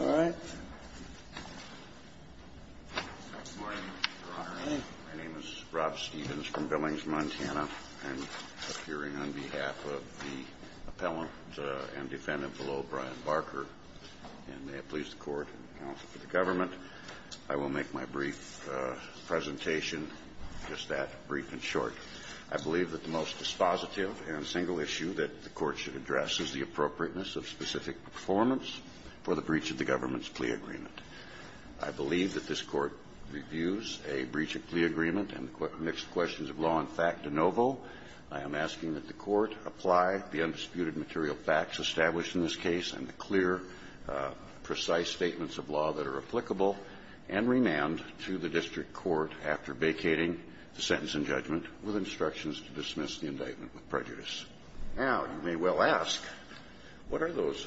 All right, my name is Rob Stevens from Billings, Montana. I'm appearing on behalf of the appellant and defendant below, Brian Barker. And may it please the Court and the counsel for the government, I will make my brief presentation, just that, brief and short. I believe that the most dispositive and single issue that the Court should address is the appropriateness of specific performance for the breach of the government's plea agreement. I believe that this Court reviews a breach of plea agreement and the mixed questions of law and fact de novo. I am asking that the Court apply the undisputed material facts established in this case and the clear, precise statements of law that are applicable and remand to the district court after vacating the sentence and judgment with instructions to dismiss the indictment with prejudice. Now, you may well ask, what are those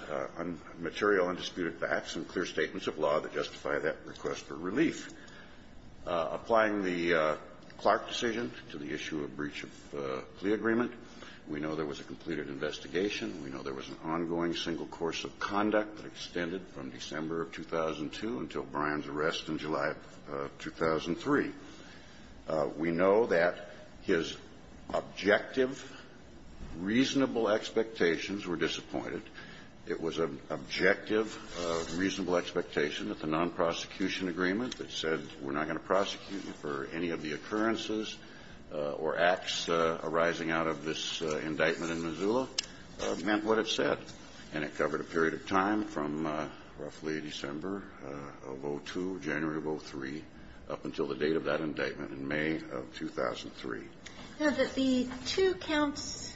material undisputed facts and clear statements of law that justify that request for relief? Applying the Clark decision to the issue of breach of plea agreement, we know there was a completed investigation. We know there was an ongoing single course of conduct that extended from December of 2002 until Brian's arrest in July of 2003. We know that his objective, reasonable expectations were disappointed. It was an objective, reasonable expectation that the nonprosecution agreement that said we're not going to prosecute you for any of the occurrences or acts arising out of this indictment in Missoula meant what it said. And it covered a period of time from roughly December of 2002, January of 2003, up until the date of that indictment in May of 2003. I know that the two counts,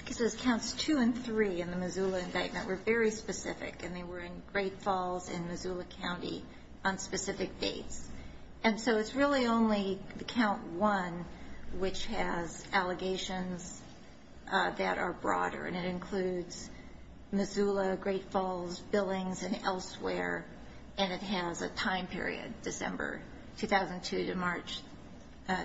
I guess it was counts 2 and 3 in the Missoula indictment were very specific, and they were in Great Falls and Missoula County on specific dates. And so it's really only the count 1 which has allegations that are broader. And it includes Missoula, Great Falls, Billings, and elsewhere. And it has a time period, December 2002 to March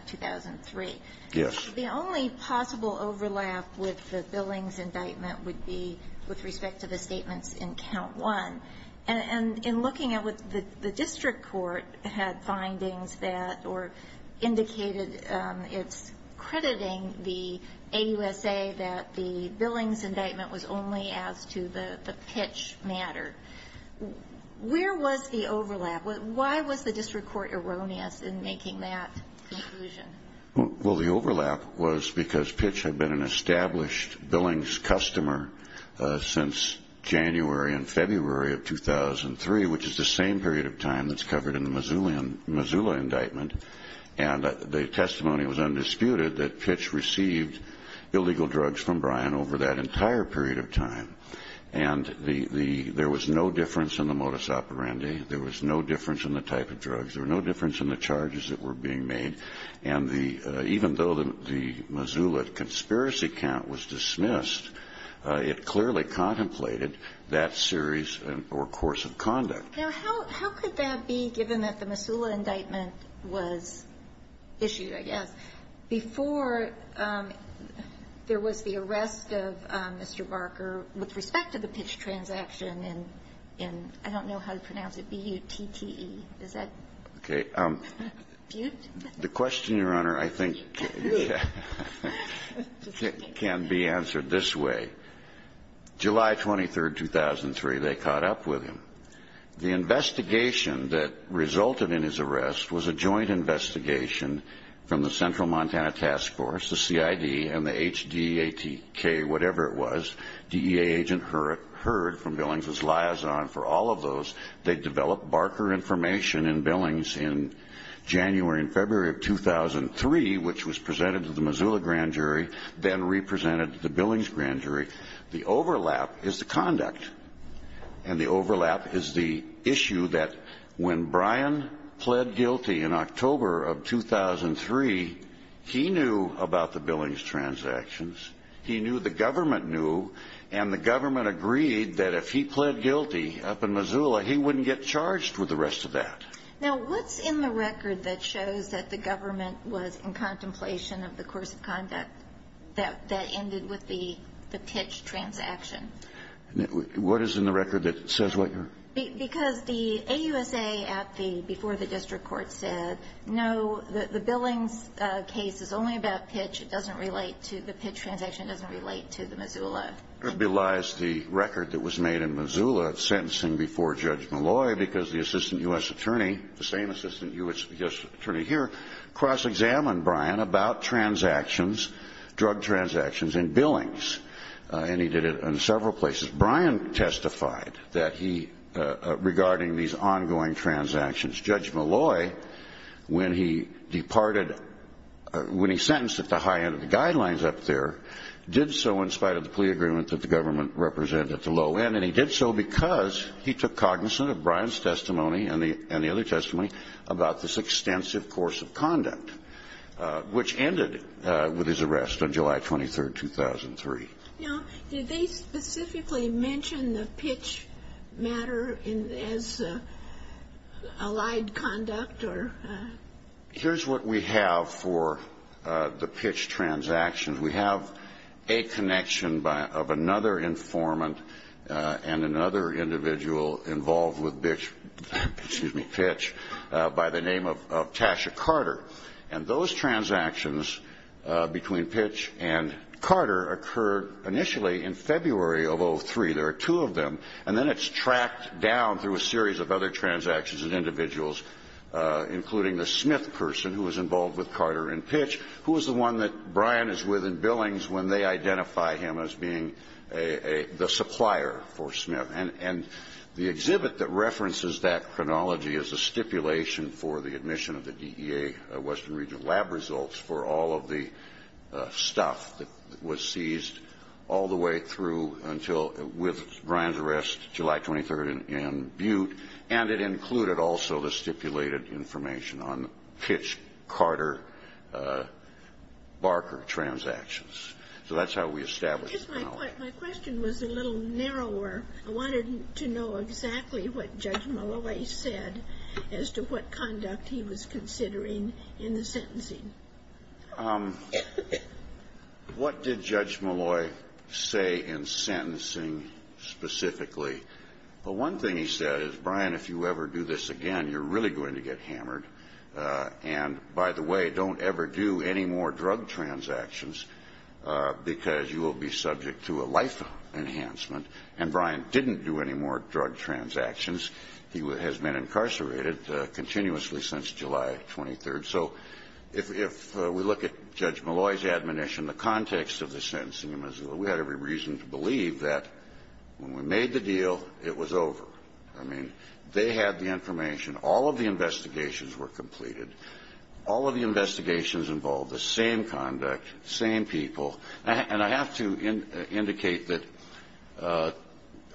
2003. The only possible overlap with the Billings indictment would be with respect to the statements in count 1. And in looking at what the district court had findings that, or indicated it's crediting the AUSA that the Billings indictment was only as to the Pitch matter, where was the overlap? Why was the district court erroneous in making that conclusion? Well, the overlap was because Pitch had been an established Billings customer since January and February of 2003, which is the same period of time that's covered in the Missoula indictment. And the testimony was undisputed that Pitch received illegal drugs from Bryan over that entire period of time. And there was no difference in the modus operandi, there was no difference in the type of drugs, there was no difference in the charges that were being made. And the, even though the Missoula conspiracy count was dismissed, it clearly contemplated that series or course of conduct. Now, how could that be, given that the Missoula indictment was issued, I guess, before there was the arrest of Mr. Barker with respect to the Pitch transaction in, I don't know how to pronounce it, B-U-T-T-E. Is that? Okay. The question, Your Honor, I think can be answered this way. July 23rd, 2003, they caught up with him. The investigation that resulted in his arrest was a joint investigation from the Central Montana Task Force, the CID, and the HDATK, whatever it was. DEA agent heard from Billings' liaison for all of those. They developed Barker information in Billings in January and February of 2003, which was presented to the Missoula grand jury, then re-presented to the Billings grand jury. The overlap is the conduct, and the overlap is the issue that when Brian pled guilty in October of 2003, he knew about the Billings transactions. He knew, the government knew, and the government agreed that if he pled guilty up in Missoula, he wouldn't get charged with the rest of that. Now, what's in the record that shows that the government was in contemplation of the course of conduct that ended with the Pitch transaction? What is in the record that says what, Your Honor? Because the AUSA at the, before the district court said, no, the Billings case is only about Pitch, it doesn't relate to the Pitch transaction, it doesn't relate to the Missoula. It belies the record that was made in Missoula sentencing before Judge Malloy, because the assistant U.S. attorney, the same assistant U.S. attorney here, cross-examined Brian about transactions, drug transactions in Billings, and he did it in several places. Brian testified that he, regarding these ongoing transactions, Judge Malloy, when he departed, when he sentenced at the high end of the guidelines up there, did so in spite of the plea agreement that the government represented at the low end, and he did so because he took cognizance of Brian's testimony and the other testimony about this extensive course of conduct, which ended with his arrest on July 23rd, 2003. Now, did they specifically mention the Pitch matter as allied conduct, or? Here's what we have for the Pitch transaction. We have a connection of another informant and another individual involved with Pitch by the name of Tasha Carter, and those transactions between Pitch and Carter occurred initially in February of 2003. There are two of them, and then it's tracked down through a series of other transactions and individuals, including the Smith person who was involved with Carter and Pitch, who was the one that Brian is with in Billings when they identify him as being the supplier for Smith. And the exhibit that references that chronology is a stipulation for the admission of the DEA Western Regional Lab results for all of the stuff that was seized all the way through until with Brian's arrest July 23rd in Butte, and it included also the stipulated information on Pitch, Carter, Barker transactions. So that's how we established the knowledge. My question was a little narrower. I wanted to know exactly what Judge Malloy said as to what conduct he was considering in the sentencing. What did Judge Malloy say in sentencing specifically? Well, one thing he said is, Brian, if you ever do this again, you're really going to get hammered. And by the way, don't ever do any more drug transactions because you will be subject to a life enhancement, and Brian didn't do any more drug transactions. He has been incarcerated continuously since July 23rd. So if we look at Judge Malloy's admonition, the context of the sentencing, we had every reason to believe that when we made the deal, it was over. I mean, they had the information. All of the investigations were completed. All of the investigations involved the same conduct, same people, and I have to indicate that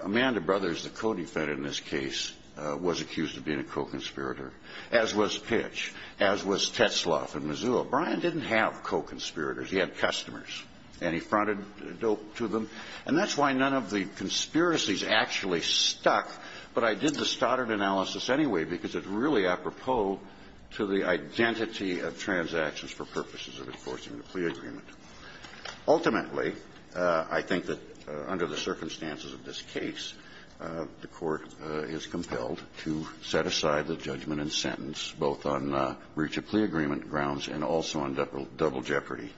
Amanda Brothers, the co-defendant in this case, was accused of being a co-conspirator, as was Pitch, as was Tetzlaff in Missoula. Brian didn't have co-conspirators. He had customers, and he fronted dope to them. And that's why none of the conspiracies actually stuck, but I did the Stoddard analysis anyway because it's really apropos to the identity of transactions for purposes of enforcing the plea agreement. Ultimately, I think that under the circumstances of this case, the Court is compelled to set aside the judgment and sentence, both on breach of plea agreement grounds and also on double jeopardy.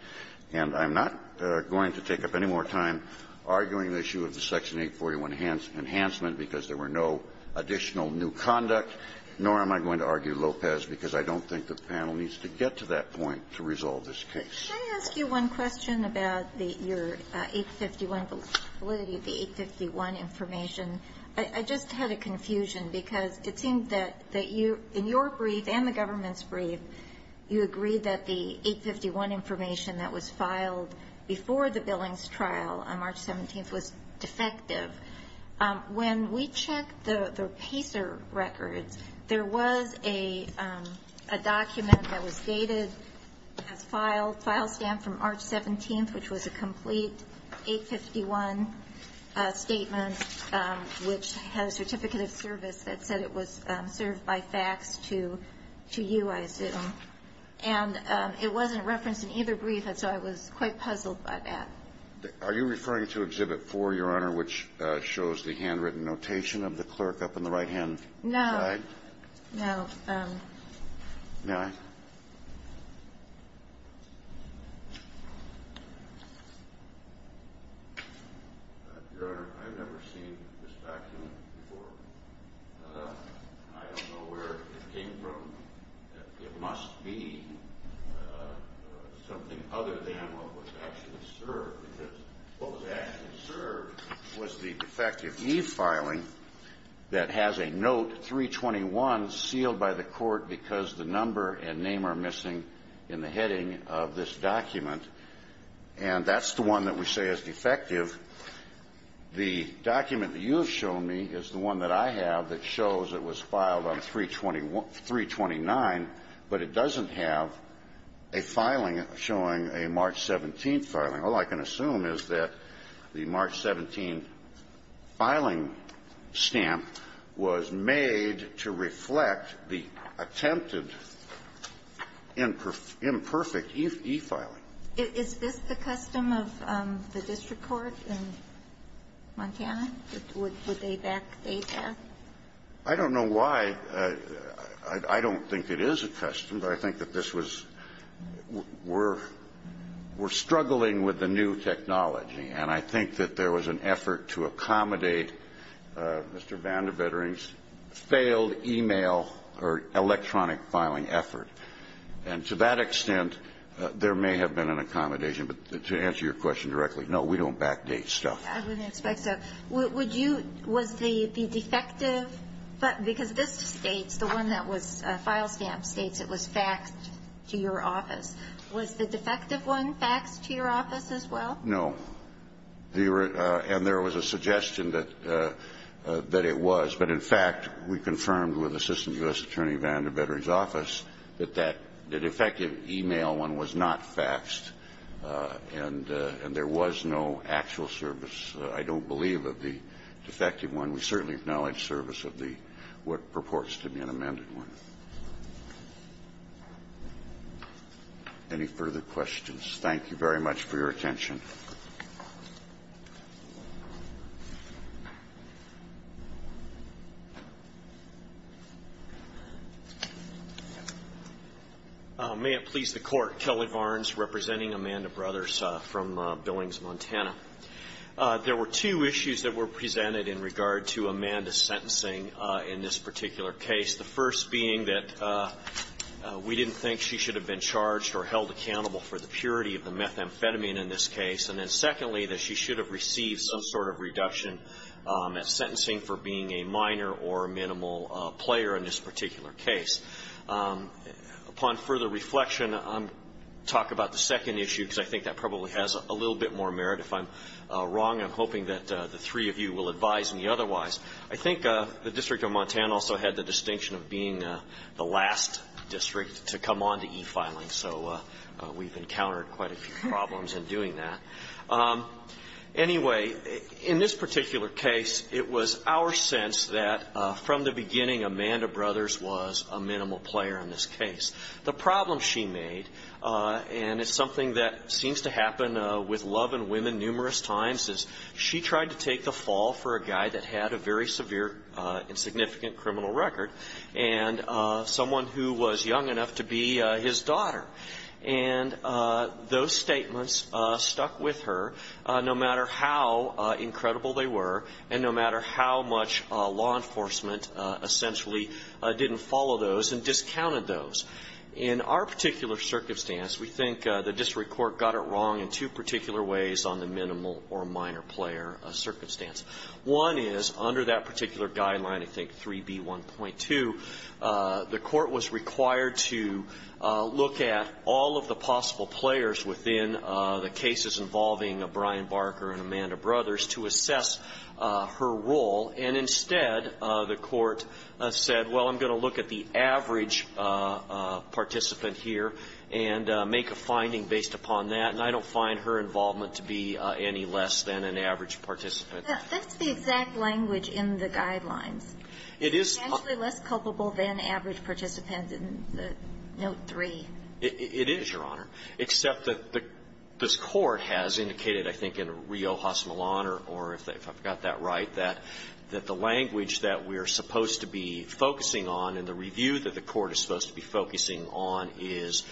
And I'm not going to take up any more time arguing the issue of the Section 841 enhancement because there were no additional new conduct, nor am I going to argue Lopez because I don't think the panel needs to get to that point to resolve this case. Ginsburg. Can I ask you one question about your 851 validity, the 851 information? I just had a confusion because it seemed that you, in your brief and the government's brief, said that the 851 information that was filed before the Billings trial on March 17th was defective. When we checked the Pacer records, there was a document that was dated, has filed, file stamp from March 17th, which was a complete 851 statement, which had a certificate of service that said it was served by fax to you, I assume. And it wasn't referenced in either brief, so I was quite puzzled by that. Are you referring to Exhibit 4, Your Honor, which shows the handwritten notation of the clerk up on the right-hand side? No, no. May I? Your Honor, I've never seen this document before. I don't know where it came from. It must be something other than what was actually served, because what was actually served was the defective e-filing that has a note, 321, sealed by the court because the number and name are missing in the heading of this document. And that's the one that we say is defective. The document that you have shown me is the one that I have that shows it was filed on 329, but it doesn't have a filing showing a March 17th filing. All I can assume is that the March 17th filing stamp was made to reflect the attempted imperfect e-filing. Is this the custom of the district court in Montana? Would they back data? I don't know why. I don't think it is a custom, but I think that this was we're struggling with the new technology, and I think that there was an effort to accommodate Mr. Vandivering's failed e-mail or electronic filing effort. And to that extent, there may have been an accommodation. But to answer your question directly, no, we don't back date stuff. I wouldn't expect so. Would you – was the defective – because this states, the one that was file stamped states it was faxed to your office. Was the defective one faxed to your office as well? No. And there was a suggestion that it was. But in fact, we confirmed with Assistant U.S. Attorney Vandivering's office that that defective e-mail one was not faxed, and there was no actual service, I don't believe, of the defective one. We certainly acknowledge service of the – what purports to be an amended one. Any further questions? Thank you very much for your attention. May it please the Court. Kelly Varnes representing Amanda Brothers from Billings, Montana. There were two issues that were presented in regard to Amanda's sentencing in this particular case. The first being that we didn't think she should have been charged or held accountable for the purity of the methamphetamine in this case. And then secondly, that she should have received some sort of reduction at sentencing for being a minor or minimal player in this particular case. Upon further reflection, I'll talk about the second issue because I think that probably has a little bit more merit. If I'm wrong, I'm hoping that the three of you will advise me otherwise. I think the District of Montana also had the distinction of being the last district to come on to e-filing. So we've encountered quite a few problems in doing that. Anyway, in this particular case, it was our sense that from the beginning, Amanda Brothers was a minimal player in this case. The problem she made, and it's something that seems to happen with love and women numerous times, is she tried to take the fall for a guy that had a very severe and significant criminal record, and someone who was young enough to be his daughter and those statements stuck with her no matter how incredible they were and no matter how much law enforcement essentially didn't follow those and discounted those. In our particular circumstance, we think the district court got it wrong in two particular ways on the minimal or minor player circumstance. One is, under that particular guideline, I think 3B1.2, the court was required to look at all of the possible players within the cases involving Brian Barker and Amanda Brothers to assess her role. And instead, the court said, well, I'm going to look at the average participant here and make a finding based upon that, and I don't find her involvement to be any less than an average participant. That's the exact language in the guidelines. It is. It's actually less culpable than average participants in the note 3. It is, Your Honor, except that this court has indicated, I think, in Riojas Milano, or if I've got that right, that the language that we are supposed to be focusing on in the review that the court is supposed to be focusing on is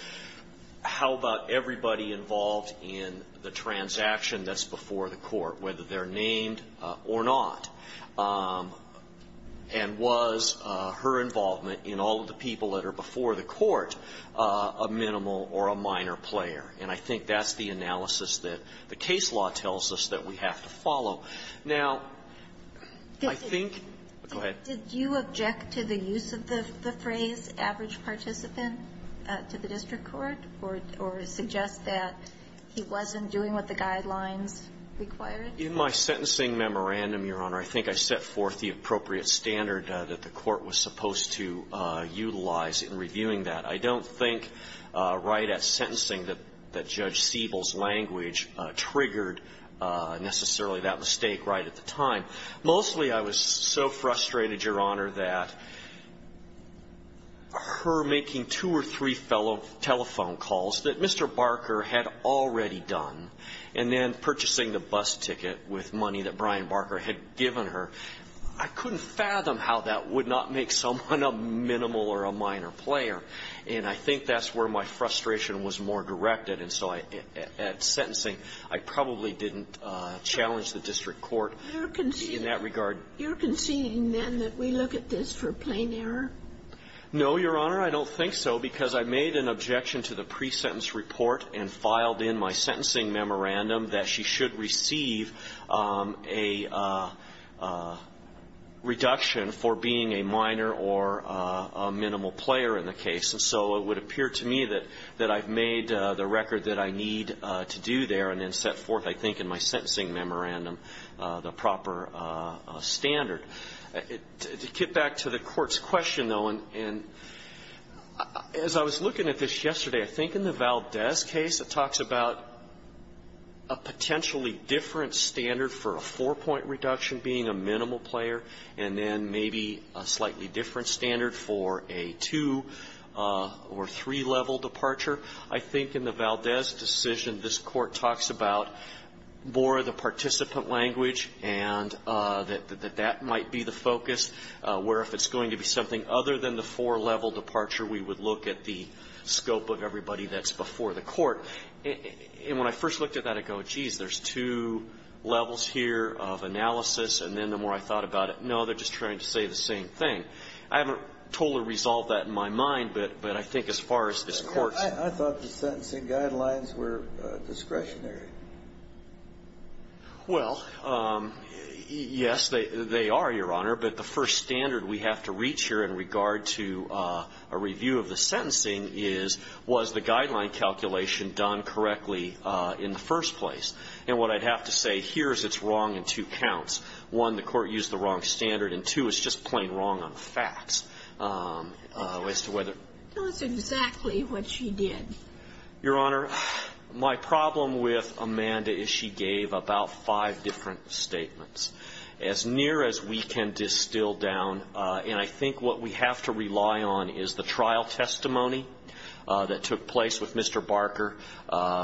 how about everybody involved in the transaction that's before the court, whether they're named or not, and was her involvement in all of the people that are before the court a minimal or a minor player. And I think that's the analysis that the case law tells us that we have to follow. Now, I think go ahead. Did you object to the use of the phrase average participant to the district court, or suggest that he wasn't doing what the guidelines required? In my sentencing memorandum, Your Honor, I think I set forth the appropriate standard that the court was supposed to utilize in reviewing that. I don't think right at sentencing that Judge Siebel's language triggered necessarily that mistake right at the time. Mostly, I was so frustrated, Your Honor, that her making two or three fellow telephone calls that Mr. Barker had already done, and then purchasing the bus ticket with money that Brian Barker had given her, I couldn't fathom how that would not make someone a minimal or a minor player. And I think that's where my frustration was more directed. And so at sentencing, I probably didn't challenge the district court in that regard. You're conceding, then, that we look at this for plain error? No, Your Honor, I don't think so, because I made an objection to the pre-sentence report and filed in my sentencing memorandum that she should receive a reduction for being a minor or a minimal player in the case. And so it would appear to me that I've made the record that I need to do there, and then set forth, I think, in my And as I was looking at this yesterday, I think in the Valdez case, it talks about a potentially different standard for a four-point reduction being a minimal player and then maybe a slightly different standard for a two- or three-level departure. I think in the Valdez decision, this Court talks about more of the participant language, and that that might be the focus, where if it's going to be something other than the four-level departure, we would look at the scope of everybody that's before the court. And when I first looked at that, I go, geez, there's two levels here of analysis, and then the more I thought about it, no, they're just trying to say the same thing. I haven't totally resolved that in my mind, but I think as far as this Court's ---- I thought the sentencing guidelines were discretionary. Well, yes, they are, Your Honor, but the first standard we have to reach here in regard to a review of the sentencing is, was the guideline calculation done correctly in the first place? And what I'd have to say here is it's wrong in two counts. One, the Court used the wrong standard, and two, it's just plain wrong on the facts as to whether ---- Tell us exactly what she did. Your Honor, my problem with Amanda is she gave about five different statements. As near as we can distill down, and I think what we have to rely on is the trial testimony that took place with Mr. Barker,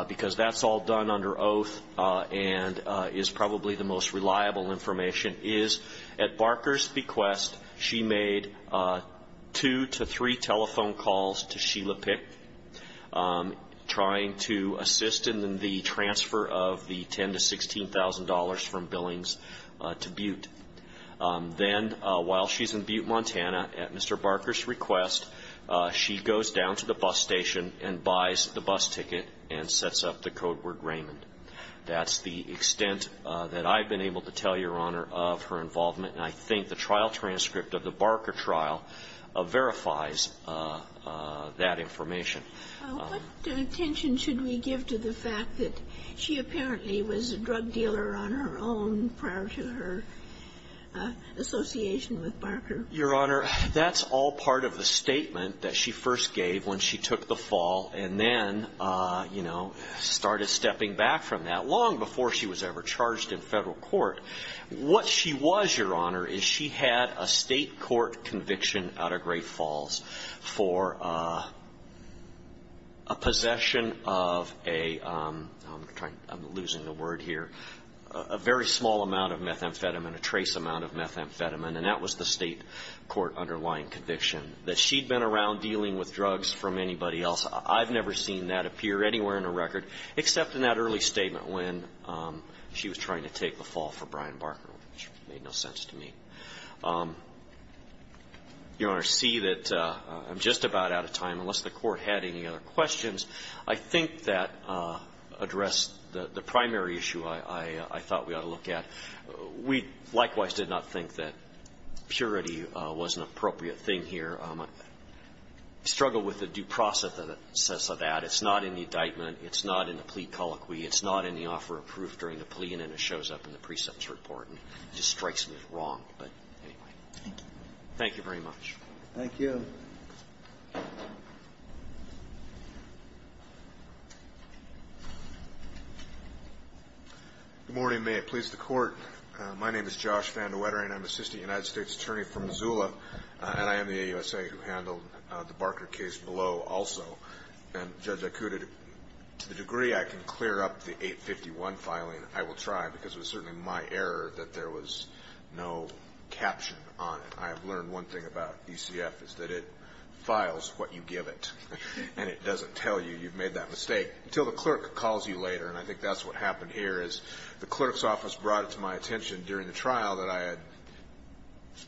because that's all done under oath and is probably the most reliable information, is at Barker's bequest, she made two to three telephone calls to Sheila Pick trying to assist in the transfer of the $10,000 to $16,000 from Billings to Butte. Then while she's in Butte, Montana, at Mr. Barker's request, she goes down to the That's the extent that I've been able to tell Your Honor of her involvement, and I think the trial transcript of the Barker trial verifies that information. What attention should we give to the fact that she apparently was a drug dealer on her own prior to her association with Barker? Your Honor, that's all part of the statement that she first gave when she took the fall and then started stepping back from that long before she was ever charged in federal court. What she was, Your Honor, is she had a state court conviction out of Great Falls for a possession of a very small amount of methamphetamine, a trace amount of methamphetamine, and that was the state court underlying conviction. That she'd been around dealing with drugs from anybody else, I've never seen that appear anywhere in the record except in that early statement when she was trying to take the fall for Brian Barker, which made no sense to me. Your Honor, I see that I'm just about out of time unless the Court had any other questions. I think that addressed the primary issue I thought we ought to look at. We likewise did not think that purity was an appropriate thing here. I struggle with the due process of that. It's not in the indictment. It's not in the plea colloquy. It's not in the offer of proof during the plea, and then it shows up in the precepts report and just strikes me as wrong. But anyway, thank you very much. Thank you. Thank you. Good morning. May it please the Court. My name is Josh Van De Wettering. I'm an assistant United States attorney from Missoula, and I am the AUSA who handled the Barker case below also. And, Judge, to the degree I can clear up the 851 filing, I will try, because it was certainly my error that there was no caption on it. I have learned one thing about ECF is that it files what you give it, and it doesn't tell you you've made that mistake until the clerk calls you later. And I think that's what happened here is the clerk's office brought it to my attention during the trial that I had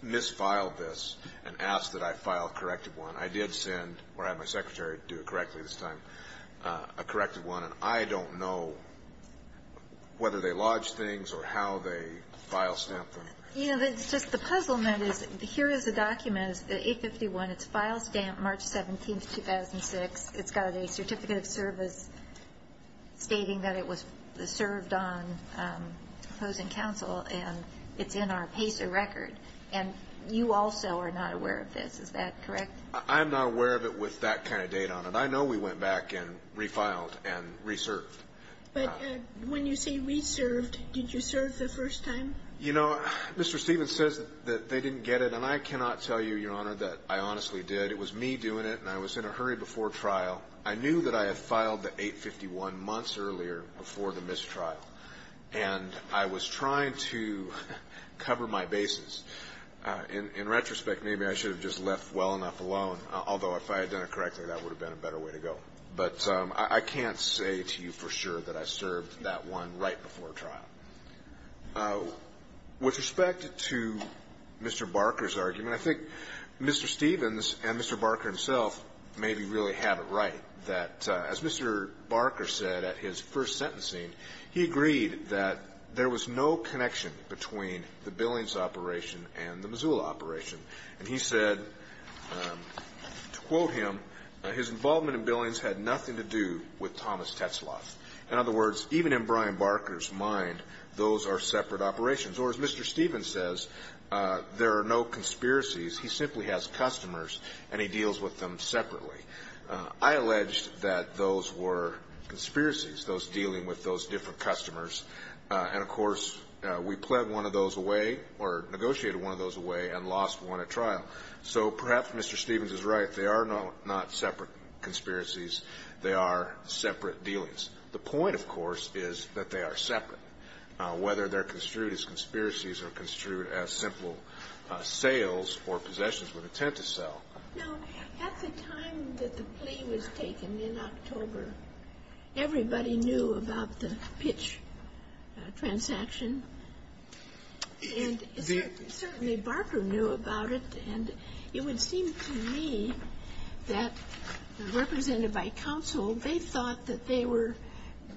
misfiled this and asked that I file a corrected one. I did send, or had my secretary do it correctly this time, a corrected one. And I don't know whether they lodged things or how they file stamped them. You know, it's just the puzzlement is here is the document, the 851. It's file stamped March 17th, 2006. It's got a certificate of service stating that it was served on opposing counsel, and it's in our PACER record. And you also are not aware of this. Is that correct? I'm not aware of it with that kind of data on it. I know we went back and refiled and re-served. But when you say re-served, did you serve the first time? You know, Mr. Stevens says that they didn't get it, and I cannot tell you, Your Honor, that I honestly did. It was me doing it, and I was in a hurry before trial. I knew that I had filed the 851 months earlier before the mistrial, and I was trying to cover my bases. In retrospect, maybe I should have just left well enough alone, although if I had done it correctly, that would have been a better way to go. But I can't say to you for sure that I served that one right before trial. With respect to Mr. Barker's argument, I think Mr. Stevens and Mr. Barker himself maybe really have it right that, as Mr. Barker said at his first sentencing, he agreed that there was no connection between the Billings operation and the Missoula operation. And he said, to quote him, his involvement in Billings had nothing to do with Thomas Tetzloth. In other words, even in Brian Barker's mind, those are separate operations. Or as Mr. Stevens says, there are no conspiracies. He simply has customers, and he deals with them separately. I alleged that those were conspiracies, those dealing with those different customers. And, of course, we pled one of those away or negotiated one of those away and lost one at trial. So perhaps Mr. Stevens is right. They are not separate conspiracies. They are separate dealings. The point, of course, is that they are separate, whether they're construed as conspiracies or construed as simple sales or possessions with intent to sell. Now, at the time that the plea was taken, in October, everybody knew about the pitch transaction. And certainly Barker knew about it. And it would seem to me that, represented by counsel, they thought that they were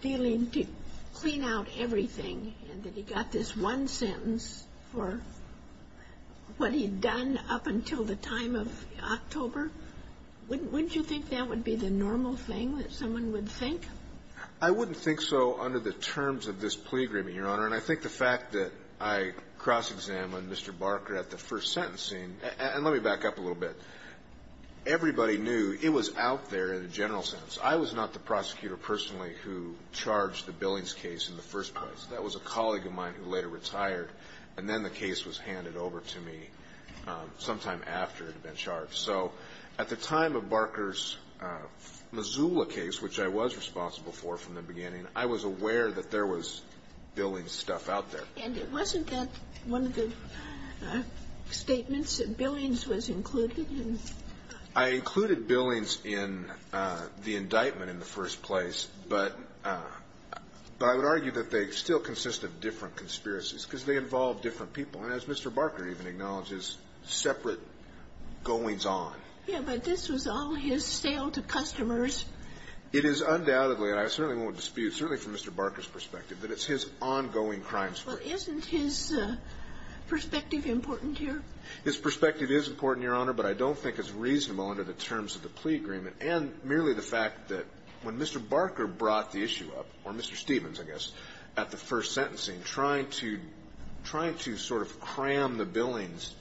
dealing to clean out everything, and that he got this one sentence for what he had done up until the time of October. Wouldn't you think that would be the normal thing that someone would think? I wouldn't think so under the terms of this plea agreement, Your Honor. And I think the fact that I cross-examined Mr. Barker at the first sentencing and let me back up a little bit. Everybody knew it was out there in a general sense. I was not the prosecutor personally who charged the Billings case in the first place. That was a colleague of mine who later retired, and then the case was handed over to me sometime after it had been charged. So at the time of Barker's Missoula case, which I was responsible for from the beginning, I was aware that there was Billings stuff out there. And it wasn't that one of the statements that Billings was included in? I included Billings in the indictment in the first place, but I would argue that they still consist of different conspiracies because they involve different people, and as Mr. Barker even acknowledges, separate goings-on. Yes, but this was all his sale to customers. It is undoubtedly, and I certainly won't dispute, certainly from Mr. Barker's perspective, that it's his ongoing crimes. Well, isn't his perspective important here? His perspective is important, Your Honor, but I don't think it's reasonable under the terms of the plea agreement and merely the fact that when Mr. Barker brought the issue up, or Mr. Stevens, I guess, at the first sentencing, trying to sort of cram the Billings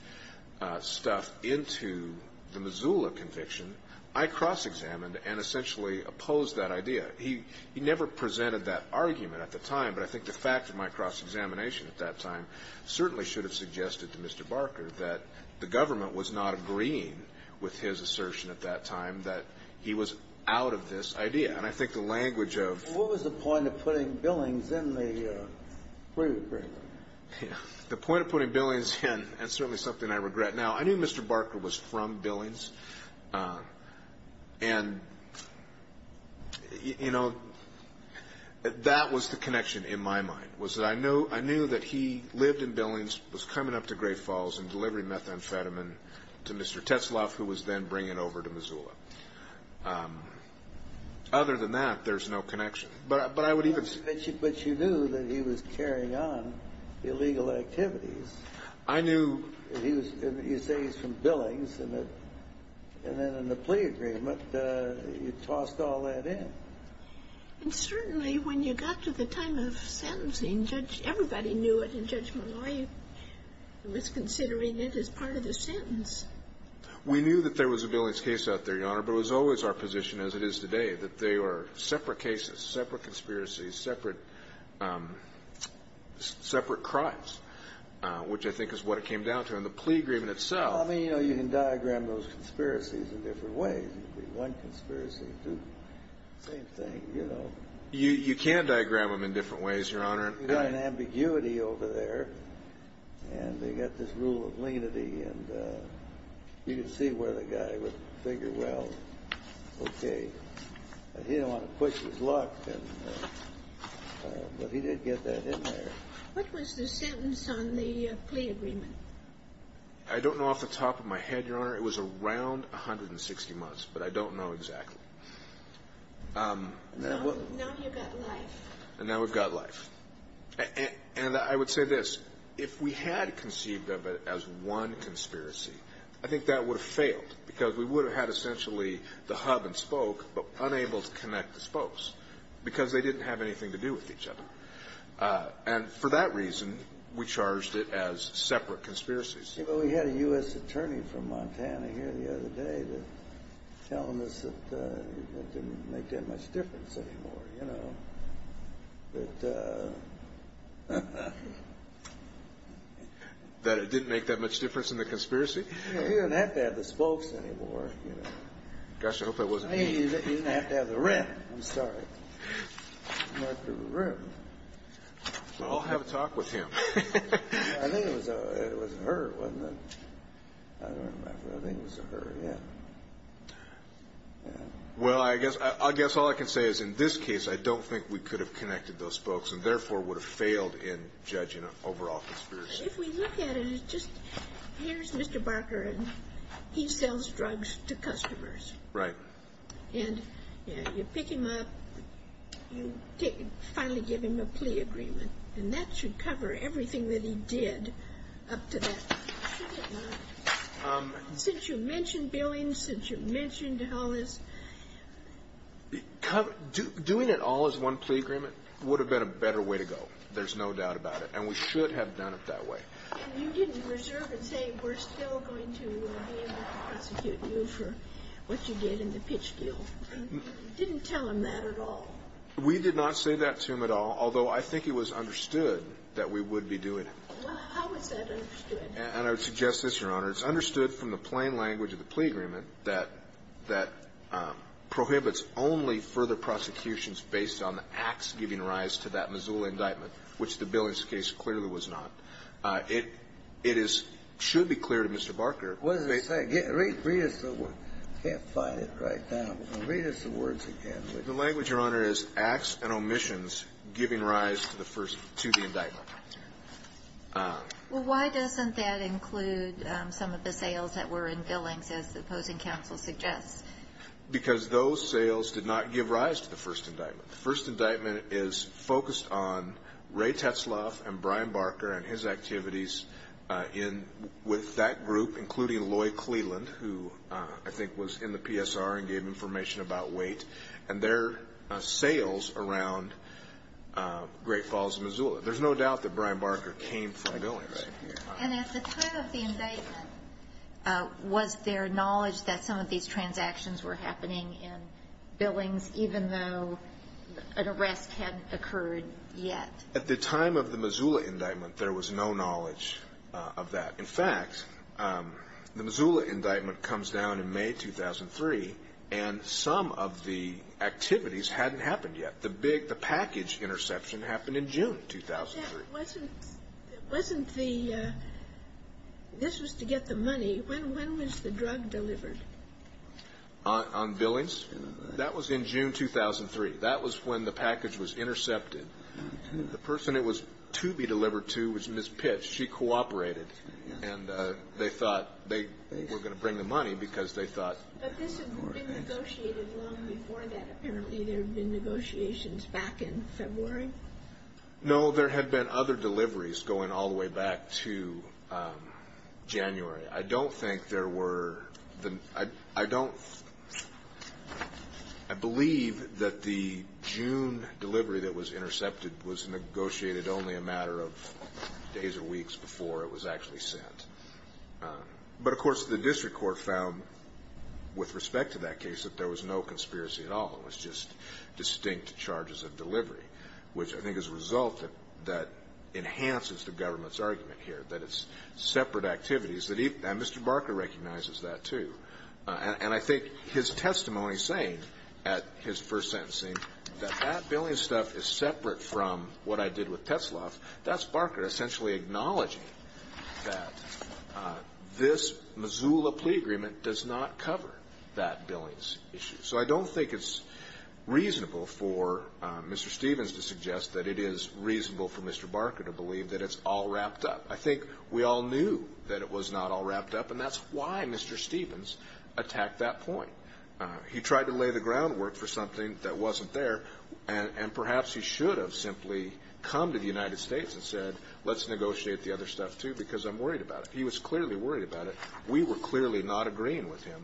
stuff into the Missoula conviction, I cross-examined and essentially opposed that idea. He never presented that argument at the time, but I think the fact of my cross-examination at that time certainly should have suggested to Mr. Barker that the government was not agreeing with his assertion at that time that he was out of this idea. And I think the language of the point of putting Billings in the plea agreement. The point of putting Billings in, and certainly something I regret now, I knew Mr. Barker was from Billings, and that was the connection in my mind, was that I knew that he lived in Billings, was coming up to Great Falls and delivering methamphetamine to Mr. Tetzlaff, who was then bringing it over to Missoula. Other than that, there's no connection. But I would even say— But you knew that he was carrying on illegal activities. I knew he was — you say he was from Billings, and then in the plea agreement, you tossed all that in. And certainly when you got to the time of sentencing, Judge — everybody knew it, and Judge Malloy was considering it as part of the sentence. We knew that there was a Billings case out there, Your Honor, but it was always our position, as it is today, that they were separate cases, separate conspiracies, separate crimes, which I think is what it came down to. And the plea agreement itself— Well, I mean, you know, you can diagram those conspiracies in different ways. One conspiracy, two. Same thing, you know. You can diagram them in different ways, Your Honor. You've got an ambiguity over there, and they've got this rule of lenity, and you can see where the guy would figure, well, okay. He didn't want to push his luck, but he did get that in there. What was the sentence on the plea agreement? I don't know off the top of my head, Your Honor. It was around 160 months, but I don't know exactly. Now you've got life. Now we've got life. And I would say this. If we had conceived of it as one conspiracy, I think that would have failed, because we would have had essentially the hub and spoke, but unable to connect the spokes, because they didn't have anything to do with each other. And for that reason, we charged it as separate conspiracies. Well, we had a U.S. attorney from Montana here the other day telling us that it didn't make that much difference anymore, you know. That it didn't make that much difference in the conspiracy? You didn't have to have the spokes anymore. Gosh, I hope that wasn't me. You didn't have to have the rep. I'm sorry. Not the rep. Well, I'll have a talk with him. I think it was her, wasn't it? I don't remember. I think it was her, yeah. Well, I guess all I can say is in this case, I don't think we could have connected those spokes and therefore would have failed in judging an overall conspiracy. If we look at it as just here's Mr. Barker, and he sells drugs to customers. Right. And you pick him up. You finally give him a plea agreement. And that should cover everything that he did up to that point. Since you mentioned billing, since you mentioned all this. Doing it all as one plea agreement would have been a better way to go. There's no doubt about it. And we should have done it that way. You didn't reserve and say we're still going to be able to prosecute you for what you did in the pitch deal. You didn't tell him that at all. We did not say that to him at all, although I think he was understood that we would be doing it. How is that understood? And I would suggest this, Your Honor. It's understood from the plain language of the plea agreement that prohibits only further prosecutions based on the acts giving rise to that Missoula indictment, which the Billings case clearly was not. It should be clear to Mr. Barker. What does it say? Read us the words. I can't find it right now. Read us the words again. The language, Your Honor, is acts and omissions giving rise to the indictment. Well, why doesn't that include some of the sales that were in Billings, as the opposing counsel suggests? Because those sales did not give rise to the first indictment. The first indictment is focused on Ray Tetzlaff and Brian Barker and his activities with that group, including Lloyd Cleland, who I think was in the PSR and gave information about weight, and their sales around Great Falls, Missoula. There's no doubt that Brian Barker came from Billings. And at the time of the indictment, was there knowledge that some of these transactions were happening in Billings, even though an arrest hadn't occurred yet? At the time of the Missoula indictment, there was no knowledge of that. In fact, the Missoula indictment comes down in May 2003, and some of the activities hadn't happened yet. But the package interception happened in June 2003. But that wasn't the ñ this was to get the money. When was the drug delivered? On Billings? That was in June 2003. That was when the package was intercepted. The person it was to be delivered to was Miss Pitts. She cooperated. And they thought they were going to bring the money because they thought ñ But this had been negotiated long before that. Apparently there had been negotiations back in February. No, there had been other deliveries going all the way back to January. I don't think there were ñ I don't ñ I believe that the June delivery that was intercepted was negotiated only a matter of days or weeks before it was actually sent. But, of course, the district court found, with respect to that case, that there was no conspiracy at all. It was just distinct charges of delivery, which I think is a result that enhances the government's argument here, that it's separate activities. And Mr. Barker recognizes that, too. And I think his testimony saying at his first sentencing that that Billings stuff is separate from what I did with Tetzeloff, that's Barker essentially acknowledging that this Missoula plea agreement does not cover that Billings issue. So I don't think it's reasonable for Mr. Stevens to suggest that it is reasonable for Mr. Barker to believe that it's all wrapped up. I think we all knew that it was not all wrapped up, and that's why Mr. Stevens attacked that point. He tried to lay the groundwork for something that wasn't there, and perhaps he should have simply come to the United States and said, let's negotiate the other stuff, too, because I'm worried about it. He was clearly worried about it. We were clearly not agreeing with him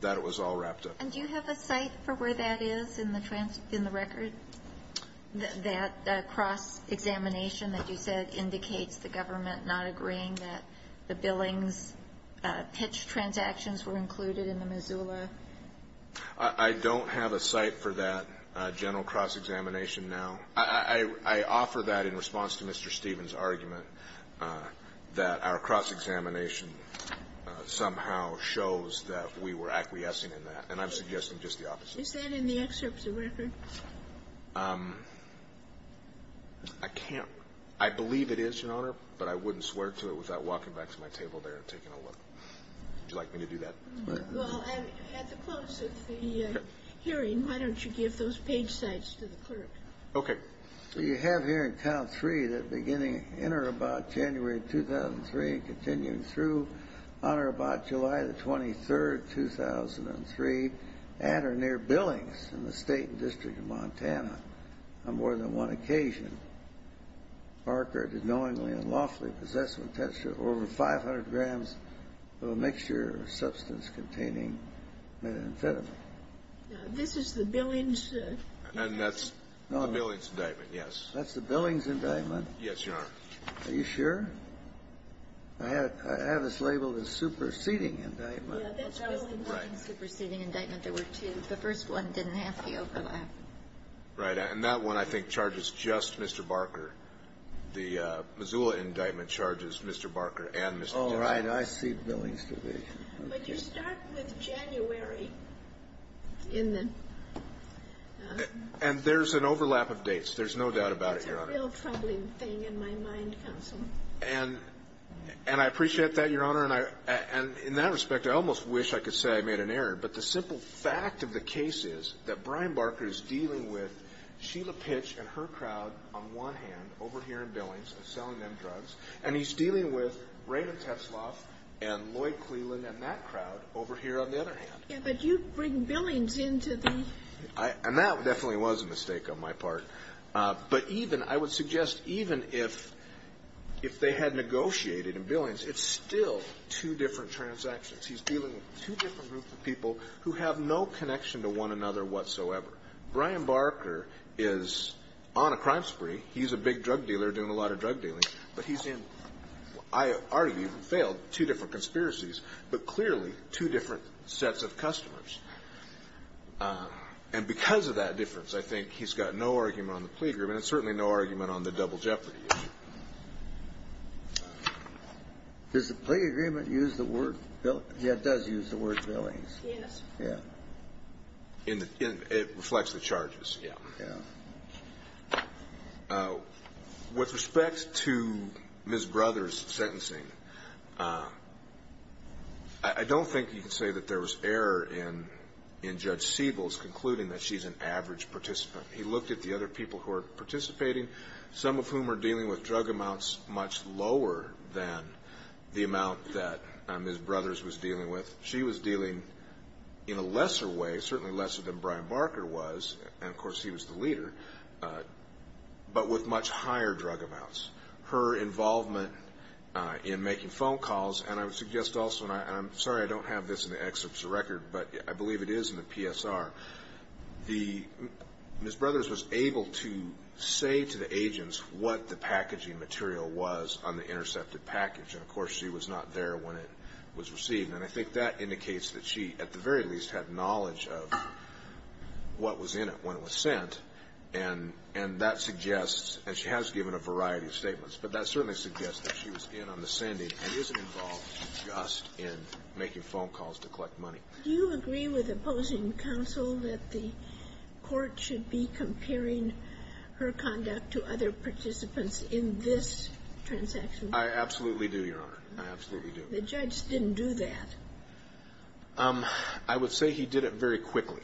that it was all wrapped up. And do you have a site for where that is in the record? That cross-examination that you said indicates the government not agreeing that the Billings pitch transactions were included in the Missoula? I don't have a site for that general cross-examination now. I offer that in response to Mr. Stevens' argument that our cross-examination somehow shows that we were acquiescing in that. And I'm suggesting just the opposite. Is that in the excerpt of the record? I can't – I believe it is, Your Honor, but I wouldn't swear to it without walking back to my table there and taking a look. Would you like me to do that? Well, at the close of the hearing, why don't you give those page sites to the clerk? Okay. You have here in count three that beginning in or about January 2003 and continuing through on or about July the 23rd, 2003, at or near Billings in the State and District of Montana on more than one occasion, Barker did knowingly and lawfully possess with texture over 500 grams of a mixture of substance containing methamphetamine. Now, this is the Billings? And that's the Billings indictment, yes. That's the Billings indictment? Yes, Your Honor. Are you sure? I have it labeled as superseding indictment. Yeah, that's Billings superseding indictment. There were two. The first one didn't have the overlap. Right. And that one, I think, charges just Mr. Barker. The Missoula indictment charges Mr. Barker and Mr. Johnson. Oh, right. I see Billings to be. But you start with January in the... And there's an overlap of dates. There's no doubt about it, Your Honor. That's a real troubling thing in my mind, counsel. And I appreciate that, Your Honor. And in that respect, I almost wish I could say I made an error. But the simple fact of the case is that Brian Barker is dealing with Sheila Pitch and her crowd on one hand over here in Billings and selling them drugs. And he's dealing with Raymond Tesloff and Lloyd Cleland and that crowd over here on the other hand. Yeah, but you bring Billings into the... And that definitely was a mistake on my part. But even, I would suggest, even if they had negotiated in Billings, it's still two different transactions. He's dealing with two different groups of people who have no connection to one another whatsoever. Brian Barker is on a crime spree. He's a big drug dealer doing a lot of drug dealing. But he's in, I argue, two different conspiracies, but clearly two different sets of customers. And because of that difference, I think he's got no argument on the plea agreement and certainly no argument on the double jeopardy issue. Does the plea agreement use the word Billings? Yeah, it does use the word Billings. Yes. Yeah. It reflects the charges, yeah. Yeah. With respect to Ms. Brothers' sentencing, I don't think you can say that there was error in Judge Siebel's concluding that she's an average participant. He looked at the other people who are participating, some of whom are dealing with drug amounts much lower than the amount that Ms. Brothers was dealing with. She was dealing in a lesser way, certainly lesser than Brian Barker was, and of course he was the leader, but with much higher drug amounts. Her involvement in making phone calls, and I would suggest also, and I'm sorry I don't have this in the excerpts of the record, but I believe it is in the PSR. Ms. Brothers was able to say to the agents what the packaging material was on the intercepted package, and of course she was not there when it was received, and I think that indicates that she at the very least had knowledge of what was in it when it was sent, and that suggests, and she has given a variety of statements, but that certainly suggests that she was in on the sending and isn't involved just in making phone calls to collect money. Do you agree with opposing counsel that the court should be comparing her conduct to other participants in this transaction? I absolutely do, Your Honor. I absolutely do. The judge didn't do that. I would say he did it very quickly.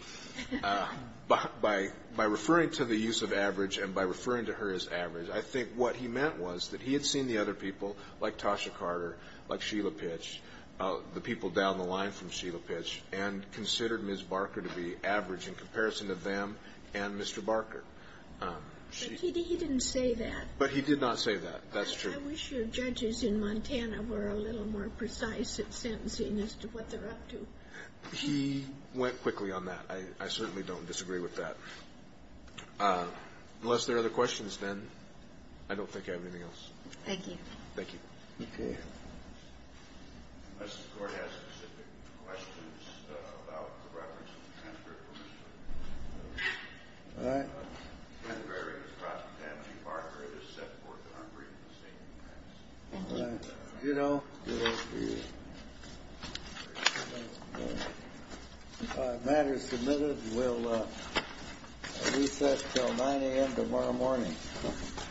By referring to the use of average and by referring to her as average, I think what he meant was that he had seen the other people, like Tasha Carter, like Sheila Pitch, the people down the line from Sheila Pitch, and considered Ms. Barker to be average in comparison to them and Mr. Barker. But he didn't say that. But he did not say that. That's true. I wish your judges in Montana were a little more precise in sentencing as to what they're up to. He went quickly on that. I certainly don't disagree with that. Unless there are other questions, then, I don't think I have anything else. Thank you. Thank you. Okay. Unless the court has specific questions about the reference to the transfer of permission. All right. Whether or not Ms. Barker is set forth in her brief in the statement. You know, the matter is submitted. We'll recess until 9 a.m. tomorrow morning. Thank you. Thank you.